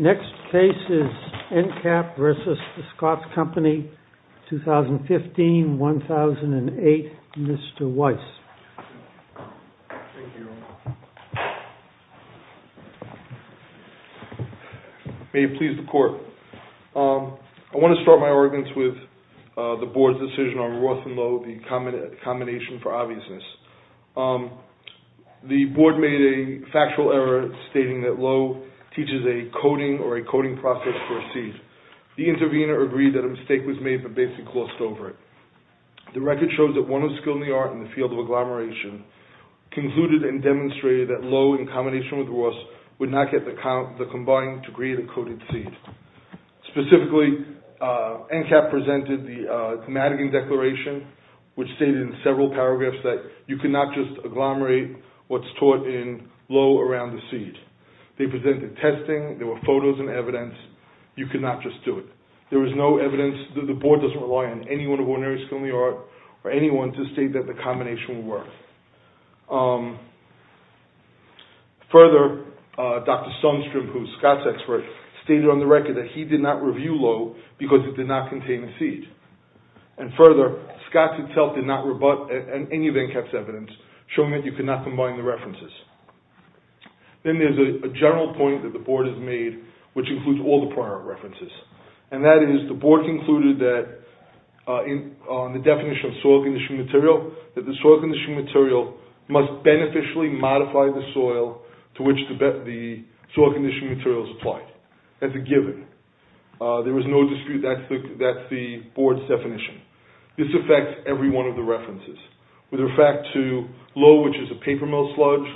Next case is Encap versus the Scotts Company, 2015-2008. Mr. Weiss. Thank you. May it please the court. I want to start my arguments with the board's decision on Roth and Lowe, the combination for obviousness. The board made a factual error stating that Lowe teaches a coding or a coding process for a seed. The intervener agreed that a mistake was made but basically glossed over it. The record shows that one of skill in the art in the field of agglomeration concluded and demonstrated that Lowe in combination with Roth would not get the combined degree of the coded seed. Specifically, Encap presented the Madigan Declaration which stated in several paragraphs that you cannot just agglomerate what's taught in Lowe around the seed. They presented testing. There were photos and evidence. You cannot just do it. There is no evidence that the board doesn't rely on anyone of ordinary skill in the art or anyone to state that the combination will work. Further, Dr. Sundstrom, who is Scott's expert, stated on the record that he did not review Lowe because it did not contain a seed. Further, Scott did not rebut any of Encap's evidence showing that you cannot combine the references. Then there is a general point that the board has made which includes all the prior references and that is the board concluded that on the definition of soil condition material that the soil condition material must beneficially modify the soil to which the soil condition material is applied. That's a given. There is no dispute that's the board's definition. This affects every one of the references. With respect to Lowe, which is a paper mill sludge,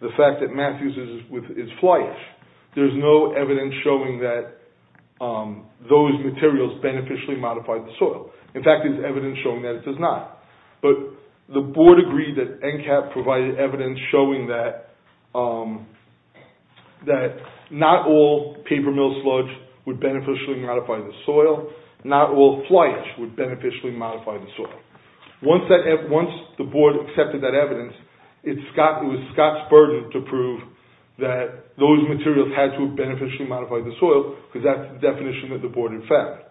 the fact that Matthews is flyish, there is no evidence showing that those materials beneficially modify the soil. In fact, there is evidence showing that it does not. But the board agreed that Encap provided evidence showing that not all paper mill sludge would beneficially modify the soil. Not all flyish would beneficially modify the soil. Once the board accepted that evidence, it was Scott's burden to prove that those materials had to have beneficially modified the soil because that's the definition that the board in fact.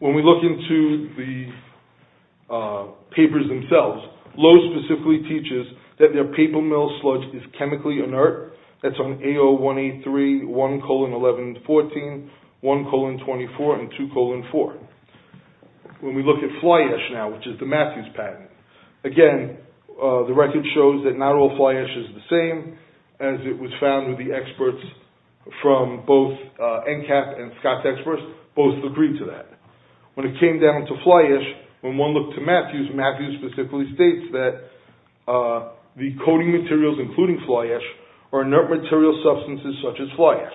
When we look into the papers themselves, Lowe specifically teaches that their paper mill sludge is chemically inert. That's on AO183, 1,11,14, 1,24, and 2,4. When we look at flyish now, which is the Matthews patent, again, the record shows that not all flyish is the same, as it was found with the experts from both Encap and Scott's experts both agreed to that. When it came down to flyish, when one looked at Matthews, Matthews specifically states that the coating materials including flyish are inert material substances such as flyish.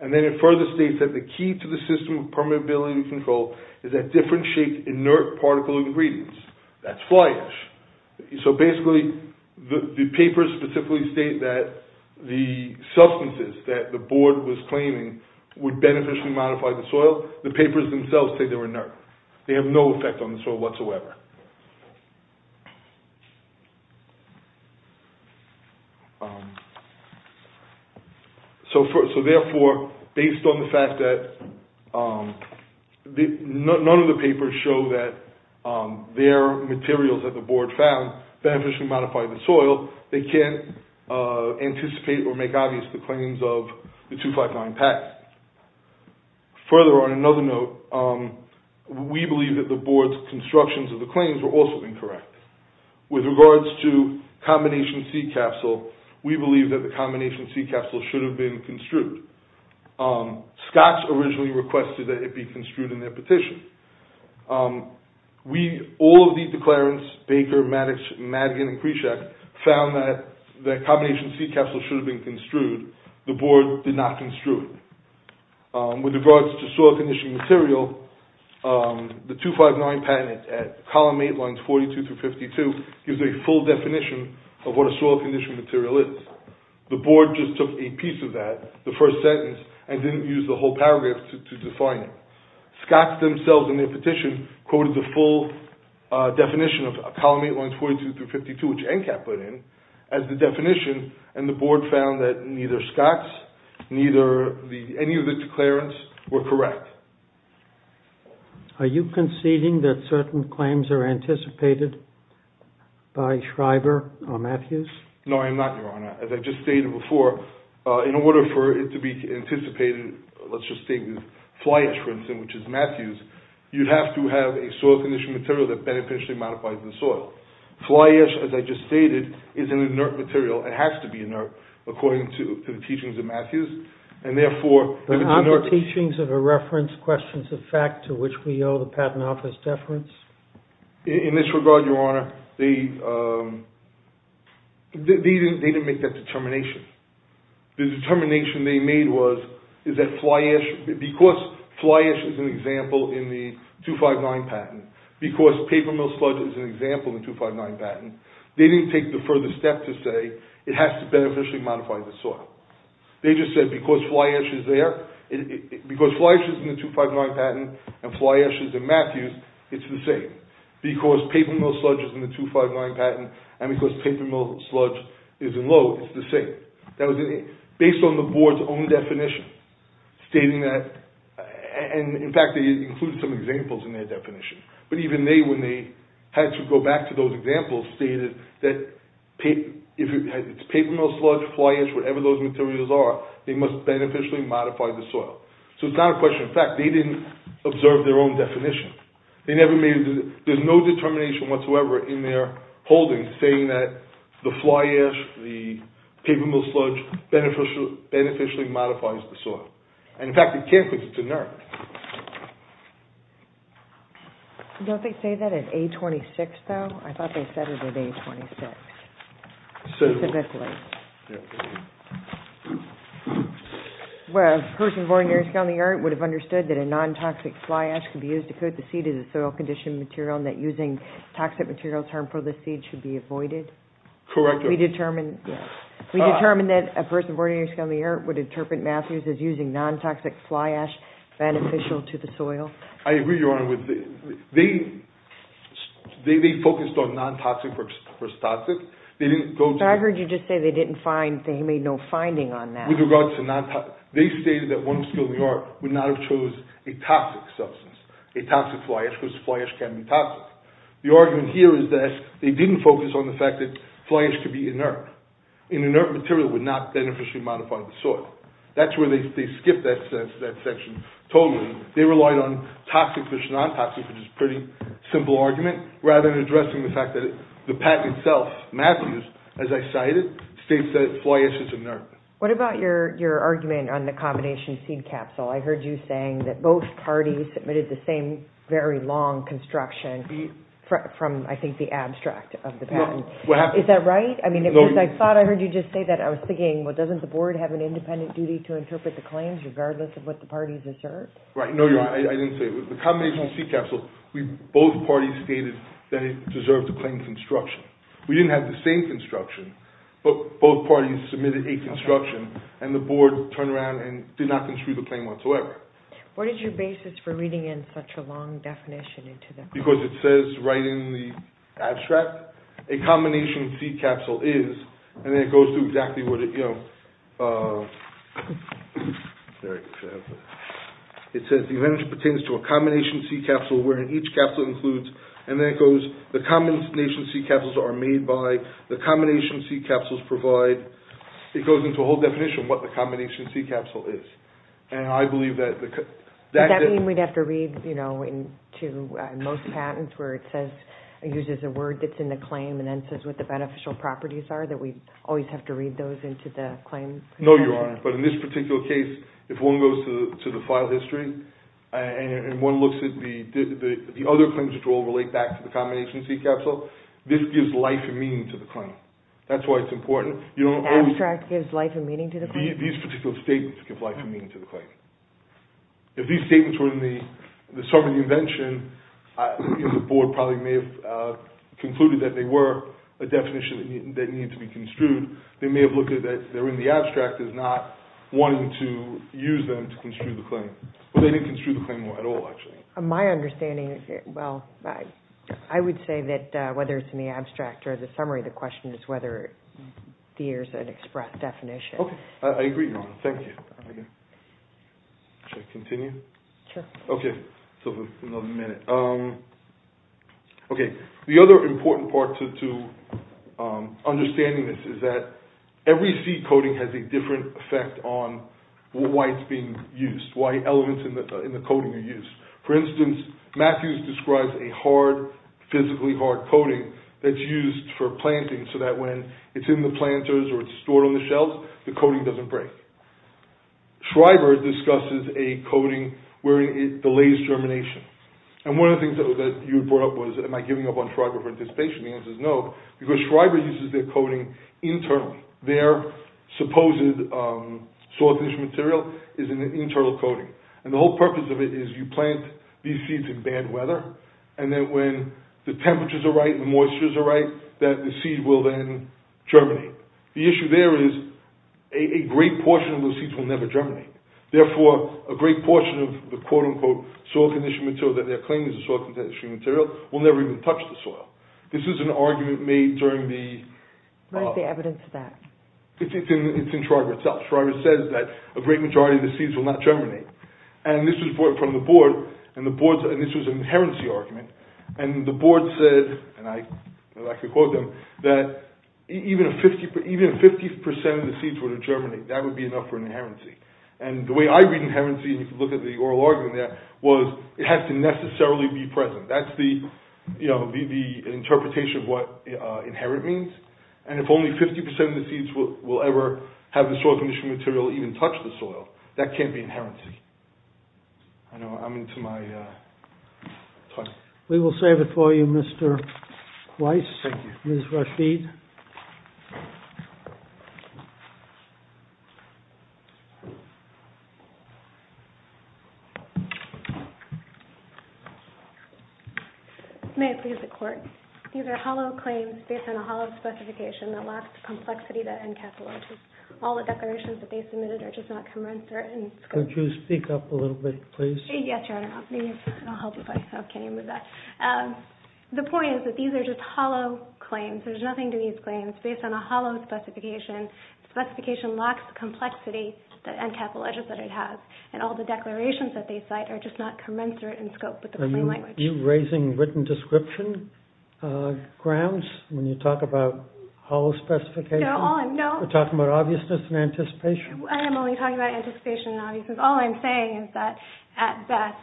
And then it further states that the key to the system of permeability control is that different shaped inert particle ingredients. That's flyish. So basically, the papers specifically state that the substances that the board was claiming would beneficially modify the soil, the papers themselves say they're inert. They have no effect on the soil whatsoever. So therefore, based on the fact that none of the papers show that their materials that the board found beneficially modified the soil, they can't anticipate or make obvious the claims of the 259 PACS. Further, on another note, we believe that the board's constructions of the claims were also incorrect. With regards to combination seed capsule, we believe that the combination seed capsule should have been construed. Scott's originally requested that it be construed in their petition. We, all of the declarants, Baker, Maddox, Madigan, and Pritchak found that the combination seed capsule should have been construed. The board did not construe it. With regards to soil condition material, the 259 patent at column 8 lines 42 through 52 gives a full definition of what a soil condition material is. The board just took a piece of that, the first sentence, and didn't use the whole paragraph to define it. Scott's themselves, in their petition, quoted the full definition of column 8 lines 42 through 52, which NCAT put in, as the definition, and the board found that neither Scott's, neither any of the declarants were correct. Are you conceding that certain claims are anticipated by Schreiber or Matthews? No, I am not, Your Honor. As I just stated before, in order for it to be anticipated, let's just state this, fly ash, for instance, which is Matthews, you have to have a soil condition material that beneficially modifies the soil. Fly ash, as I just stated, is an inert material. It has to be inert, according to the teachings of Matthews, and therefore… Are there teachings of a reference, questions of fact, to which we owe the Patent Office deference? In this regard, Your Honor, they didn't make that determination. The determination they made was, because fly ash is an example in the 259 Patent, because paper mill sludge is an example in the 259 Patent, they didn't take the further step to say, it has to beneficially modify the soil. They just said, because fly ash is in the 259 Patent and fly ash is in Matthews, it's the same. Because paper mill sludge is in the 259 Patent, and because paper mill sludge is in Lowe, it's the same. Based on the Board's own definition, stating that, and in fact they included some examples in their definition, but even they, when they had to go back to those examples, stated that if it's paper mill sludge, fly ash, whatever those materials are, they must beneficially modify the soil. So it's not a question of fact, they didn't observe their own definition. There's no determination whatsoever in their holdings saying that the fly ash, the paper mill sludge, beneficially modifies the soil. And in fact, it can't because it's inert. Don't they say that in A-26, though? I thought they said it in A-26. Specifically. Well, a person born in Erie County, Erie would have understood that a non-toxic fly ash could be used to coat the seed as a soil condition material and that using toxic materials harmful to the seed should be avoided? Correct. We determined that a person born in Erie County, Erie would interpret Matthews as using non-toxic fly ash beneficial to the soil? I agree, Your Honor. They focused on non-toxic versus toxic. They didn't go to... Your Honor, I heard you just say they didn't find, they made no finding on that. With regards to non-toxic, they stated that one of the schools of the art would not have chosen a toxic substance, a toxic fly ash, because fly ash can be toxic. The argument here is that they didn't focus on the fact that fly ash could be inert. An inert material would not beneficially modify the soil. That's where they skipped that section totally. They relied on toxic versus non-toxic, which is a pretty simple argument, rather than addressing the fact that the patent itself, Matthews, as I cited, states that fly ash is inert. What about your argument on the combination seed capsule? I heard you saying that both parties submitted the same very long construction from, I think, the abstract of the patent. Is that right? I thought I heard you just say that. I was thinking, well, doesn't the board have an independent duty to interpret the claims regardless of what the parties assert? Right. No, Your Honor, I didn't say it. The combination seed capsule, both parties stated that it deserved to claim construction. We didn't have the same construction, but both parties submitted a construction, and the board turned around and did not construe the claim whatsoever. What is your basis for reading in such a long definition? Because it says right in the abstract, a combination seed capsule is, and then it goes through exactly what it, you know, it says the event pertains to a combination seed capsule wherein each capsule includes, and then it goes, the combination seed capsules are made by, the combination seed capsules provide, it goes into a whole definition of what the combination seed capsule is. Does that mean we'd have to read, you know, into most patents where it says, uses a word that's in the claim and then says what the beneficial properties are, that we always have to read those into the claim? No, Your Honor, but in this particular case, if one goes to the file history and one looks at the other claims that all relate back to the combination seed capsule, this gives life and meaning to the claim. That's why it's important. Abstract gives life and meaning to the claim? These particular statements give life and meaning to the claim. If these statements were in the summary of the invention, the board probably may have concluded that they were a definition that needed to be construed. They may have looked at that they're in the abstract as not wanting to use them to construe the claim, but they didn't construe the claim at all, actually. My understanding, well, I would say that whether it's in the abstract or the summary, the question is whether there's an express definition. Okay, I agree, Your Honor. Thank you. Should I continue? Sure. Okay, so another minute. Okay, the other important part to understanding this is that every seed coding has a different effect on why it's being used, why elements in the coding are used. For instance, Matthews describes a hard, physically hard coding that's used for planting so that when it's in the planters or it's stored on the shelves, the coding doesn't break. Schreiber discusses a coding where it delays germination. And one of the things that you brought up was, am I giving up on Schreiber for anticipation? The answer is no, because Schreiber uses their coding internally. Their supposed soil condition material is an internal coding. And the whole purpose of it is you plant these seeds in bad weather, and then when the temperatures are right and the moistures are right, that the seed will then germinate. The issue there is a great portion of those seeds will never germinate. Therefore, a great portion of the quote-unquote soil condition material that they're claiming is a soil condition material will never even touch the soil. This is an argument made during the… Where's the evidence of that? It's in Schreiber itself. Schreiber says that a great majority of the seeds will not germinate. And this was brought from the board, and this was an inherency argument. And the board said, and I like to quote them, that even if 50% of the seeds were to germinate, that would be enough for an inherency. And the way I read inherency, and you can look at the oral argument there, was it has to necessarily be present. That's the interpretation of what inherent means. And if only 50% of the seeds will ever have the soil condition material even touch the soil, that can't be inherency. I know I'm into my time. We will save it for you, Mr. Weiss. Thank you. Ms. Rashid. May I please have the court? These are hollow claims based on a hollow specification that lacks the complexity that encapsulates all the declarations that they submitted are just not commensurate. Could you speak up a little bit, please? Yes, Your Honor. I'll help if I can. The point is that these are just hollow claims. There's nothing to these claims. Based on a hollow specification, the specification lacks the complexity that encapsulates what it has. And all the declarations that they cite are just not commensurate in scope with the plain language. Are you raising written description grounds when you talk about hollow specifications? No. Are you talking about obviousness and anticipation? I am only talking about anticipation and obviousness. All I'm saying is that, at best,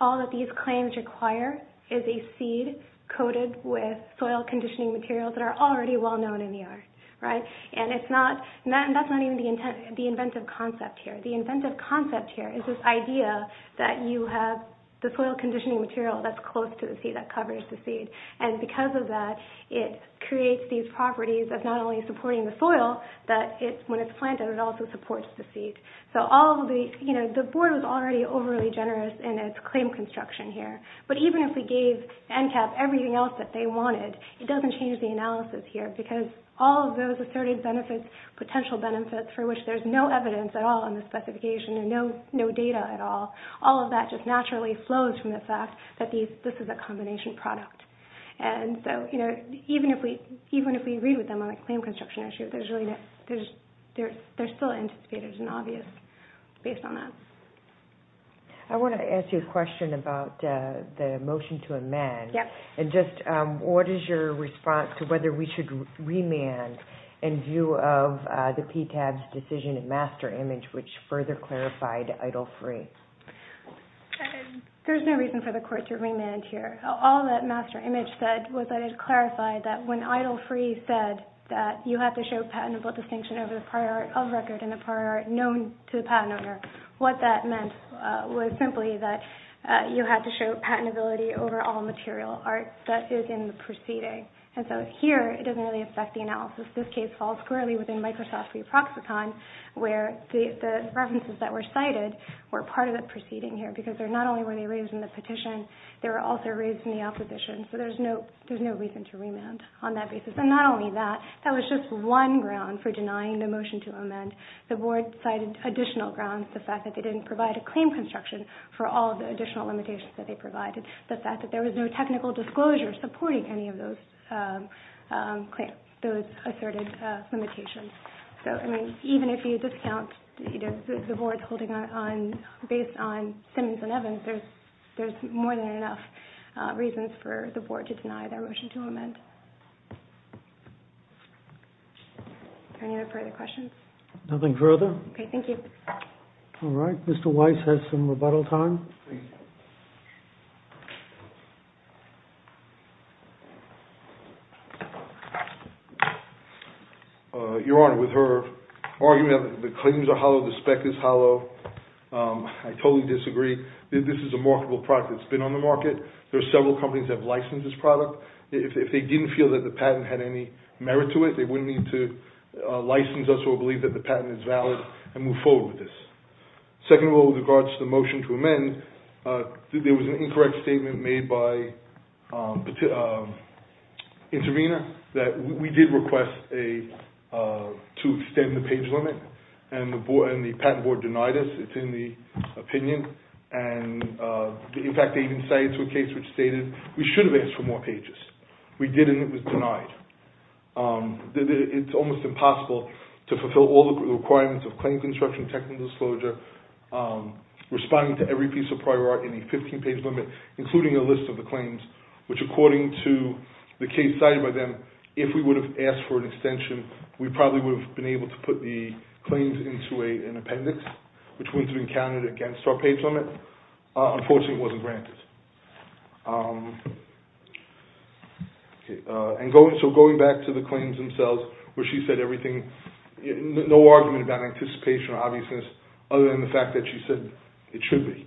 all that these claims require is a seed coated with soil conditioning materials that are already well-known in the art. And that's not even the inventive concept here. The inventive concept here is this idea that you have the soil conditioning material that's close to the seed, that covers the seed. And because of that, it creates these properties of not only supporting the soil, but when it's planted, it also supports the seed. The board was already overly generous in its claim construction here. But even if we gave ENCAP everything else that they wanted, it doesn't change the analysis here because all of those asserted benefits, potential benefits for which there's no evidence at all in the specification and no data at all, all of that just naturally flows from the fact that this is a combination product. Even if we read with them on the claim construction issue, there's still anticipators and obvious based on that. I want to ask you a question about the motion to amend. What is your response to whether we should remand in view of the PTAB's decision and master image, which further clarified idle free? There's no reason for the court to remand here. All that master image said was that it clarified that when idle free said that you have to show patentable distinction over the prior art of record and the prior art known to the patent owner, what that meant was simply that you had to show patentability over all material art that is in the proceeding. And so here, it doesn't really affect the analysis. This case falls squarely within Microsoft's free proxicon where the references that were cited were part of the proceeding here because not only were they raised in the petition, they were also raised in the opposition. So there's no reason to remand on that basis. And not only that, that was just one ground for denying the motion to amend. The board cited additional grounds, the fact that they didn't provide a claim construction for all the additional limitations that they provided, the fact that there was no technical disclosure supporting any of those asserted limitations. So even if you discount the board's holding on based on Simmons and Evans, there's more than enough reasons for the board to deny their motion to amend. Are there any other further questions? Nothing further. Okay, thank you. All right, Mr. Weiss has some rebuttal time. Your Honor, with her argument that the claims are hollow, the spec is hollow, I totally disagree. This is a marketable product that's been on the market. There are several companies that have licensed this product. If they didn't feel that the patent had any merit to it, they wouldn't need to license us or believe that the patent is valid and move forward with this. Second of all, with regards to the motion to amend, there was an incorrect statement made by Intervena that we did request to extend the page limit and the patent board denied us. It's in the opinion. In fact, they even cited a case which stated we should have asked for more pages. We did and it was denied. It's almost impossible to fulfill all the requirements of claim construction technical disclosure, responding to every piece of prior art in a 15-page limit, including a list of the claims, which according to the case cited by them, if we would have asked for an extension, we probably would have been able to put the claims into an appendix, which wouldn't have been counted against our page limit. Unfortunately, it wasn't granted. So going back to the claims themselves, where she said everything, no argument about anticipation or obviousness other than the fact that she said it should be.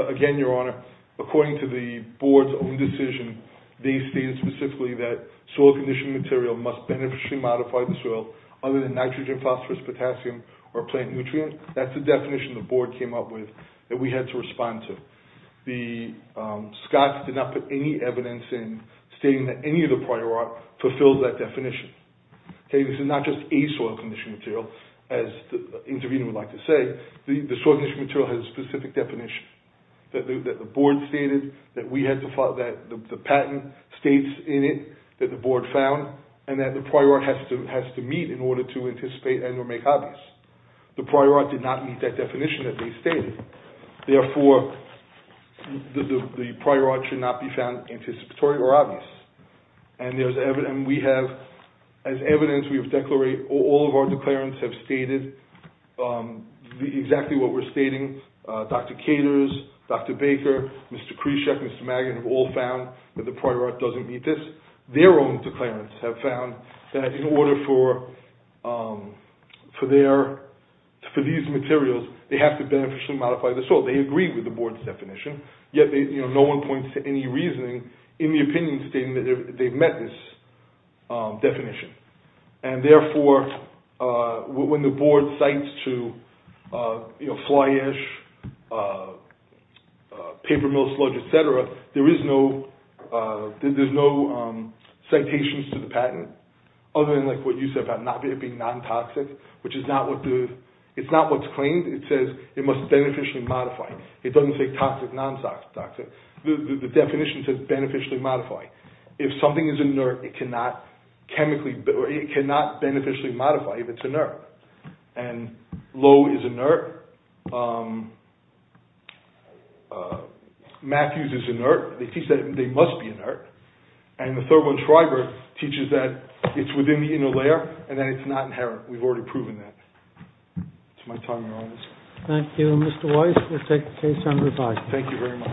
Again, Your Honor, according to the board's own decision, they stated specifically that soil conditioning material must beneficially modify the soil other than nitrogen, phosphorus, potassium, or plant nutrients. That's the definition the board came up with that we had to respond to. The Scotts did not put any evidence in stating that any of the prior art fulfilled that definition. This is not just a soil conditioning material, as the interviewee would like to say. The soil conditioning material has a specific definition that the board stated, that the patent states in it that the board found, and that the prior art has to meet in order to anticipate and or make obvious. The prior art did not meet that definition that they stated. Therefore, the prior art should not be found anticipatory or obvious. As evidence, all of our declarants have stated exactly what we're stating. Dr. Caters, Dr. Baker, Mr. Khrushchev, Mr. Magin have all found that the prior art doesn't meet this. Their own declarants have found that in order for these materials, they have to beneficially modify the soil. They agree with the board's definition, yet no one points to any reasoning in the opinion statement that they've met this definition. Therefore, when the board cites to fly ash, paper mill sludge, etc., there is no citations to the patent other than what you said about it being non-toxic, which is not what's claimed. It says it must beneficially modify. It doesn't say toxic, non-toxic. The definition says beneficially modify. If something is inert, it cannot beneficially modify if it's inert. And Lowe is inert. Matthews is inert. They teach that they must be inert. And the Thurgood Schreiber teaches that it's within the inner layer and that it's not inherent. We've already proven that. That's my time, Your Honors. Thank you. Mr. Weiss, we'll take the case on revised. Thank you very much.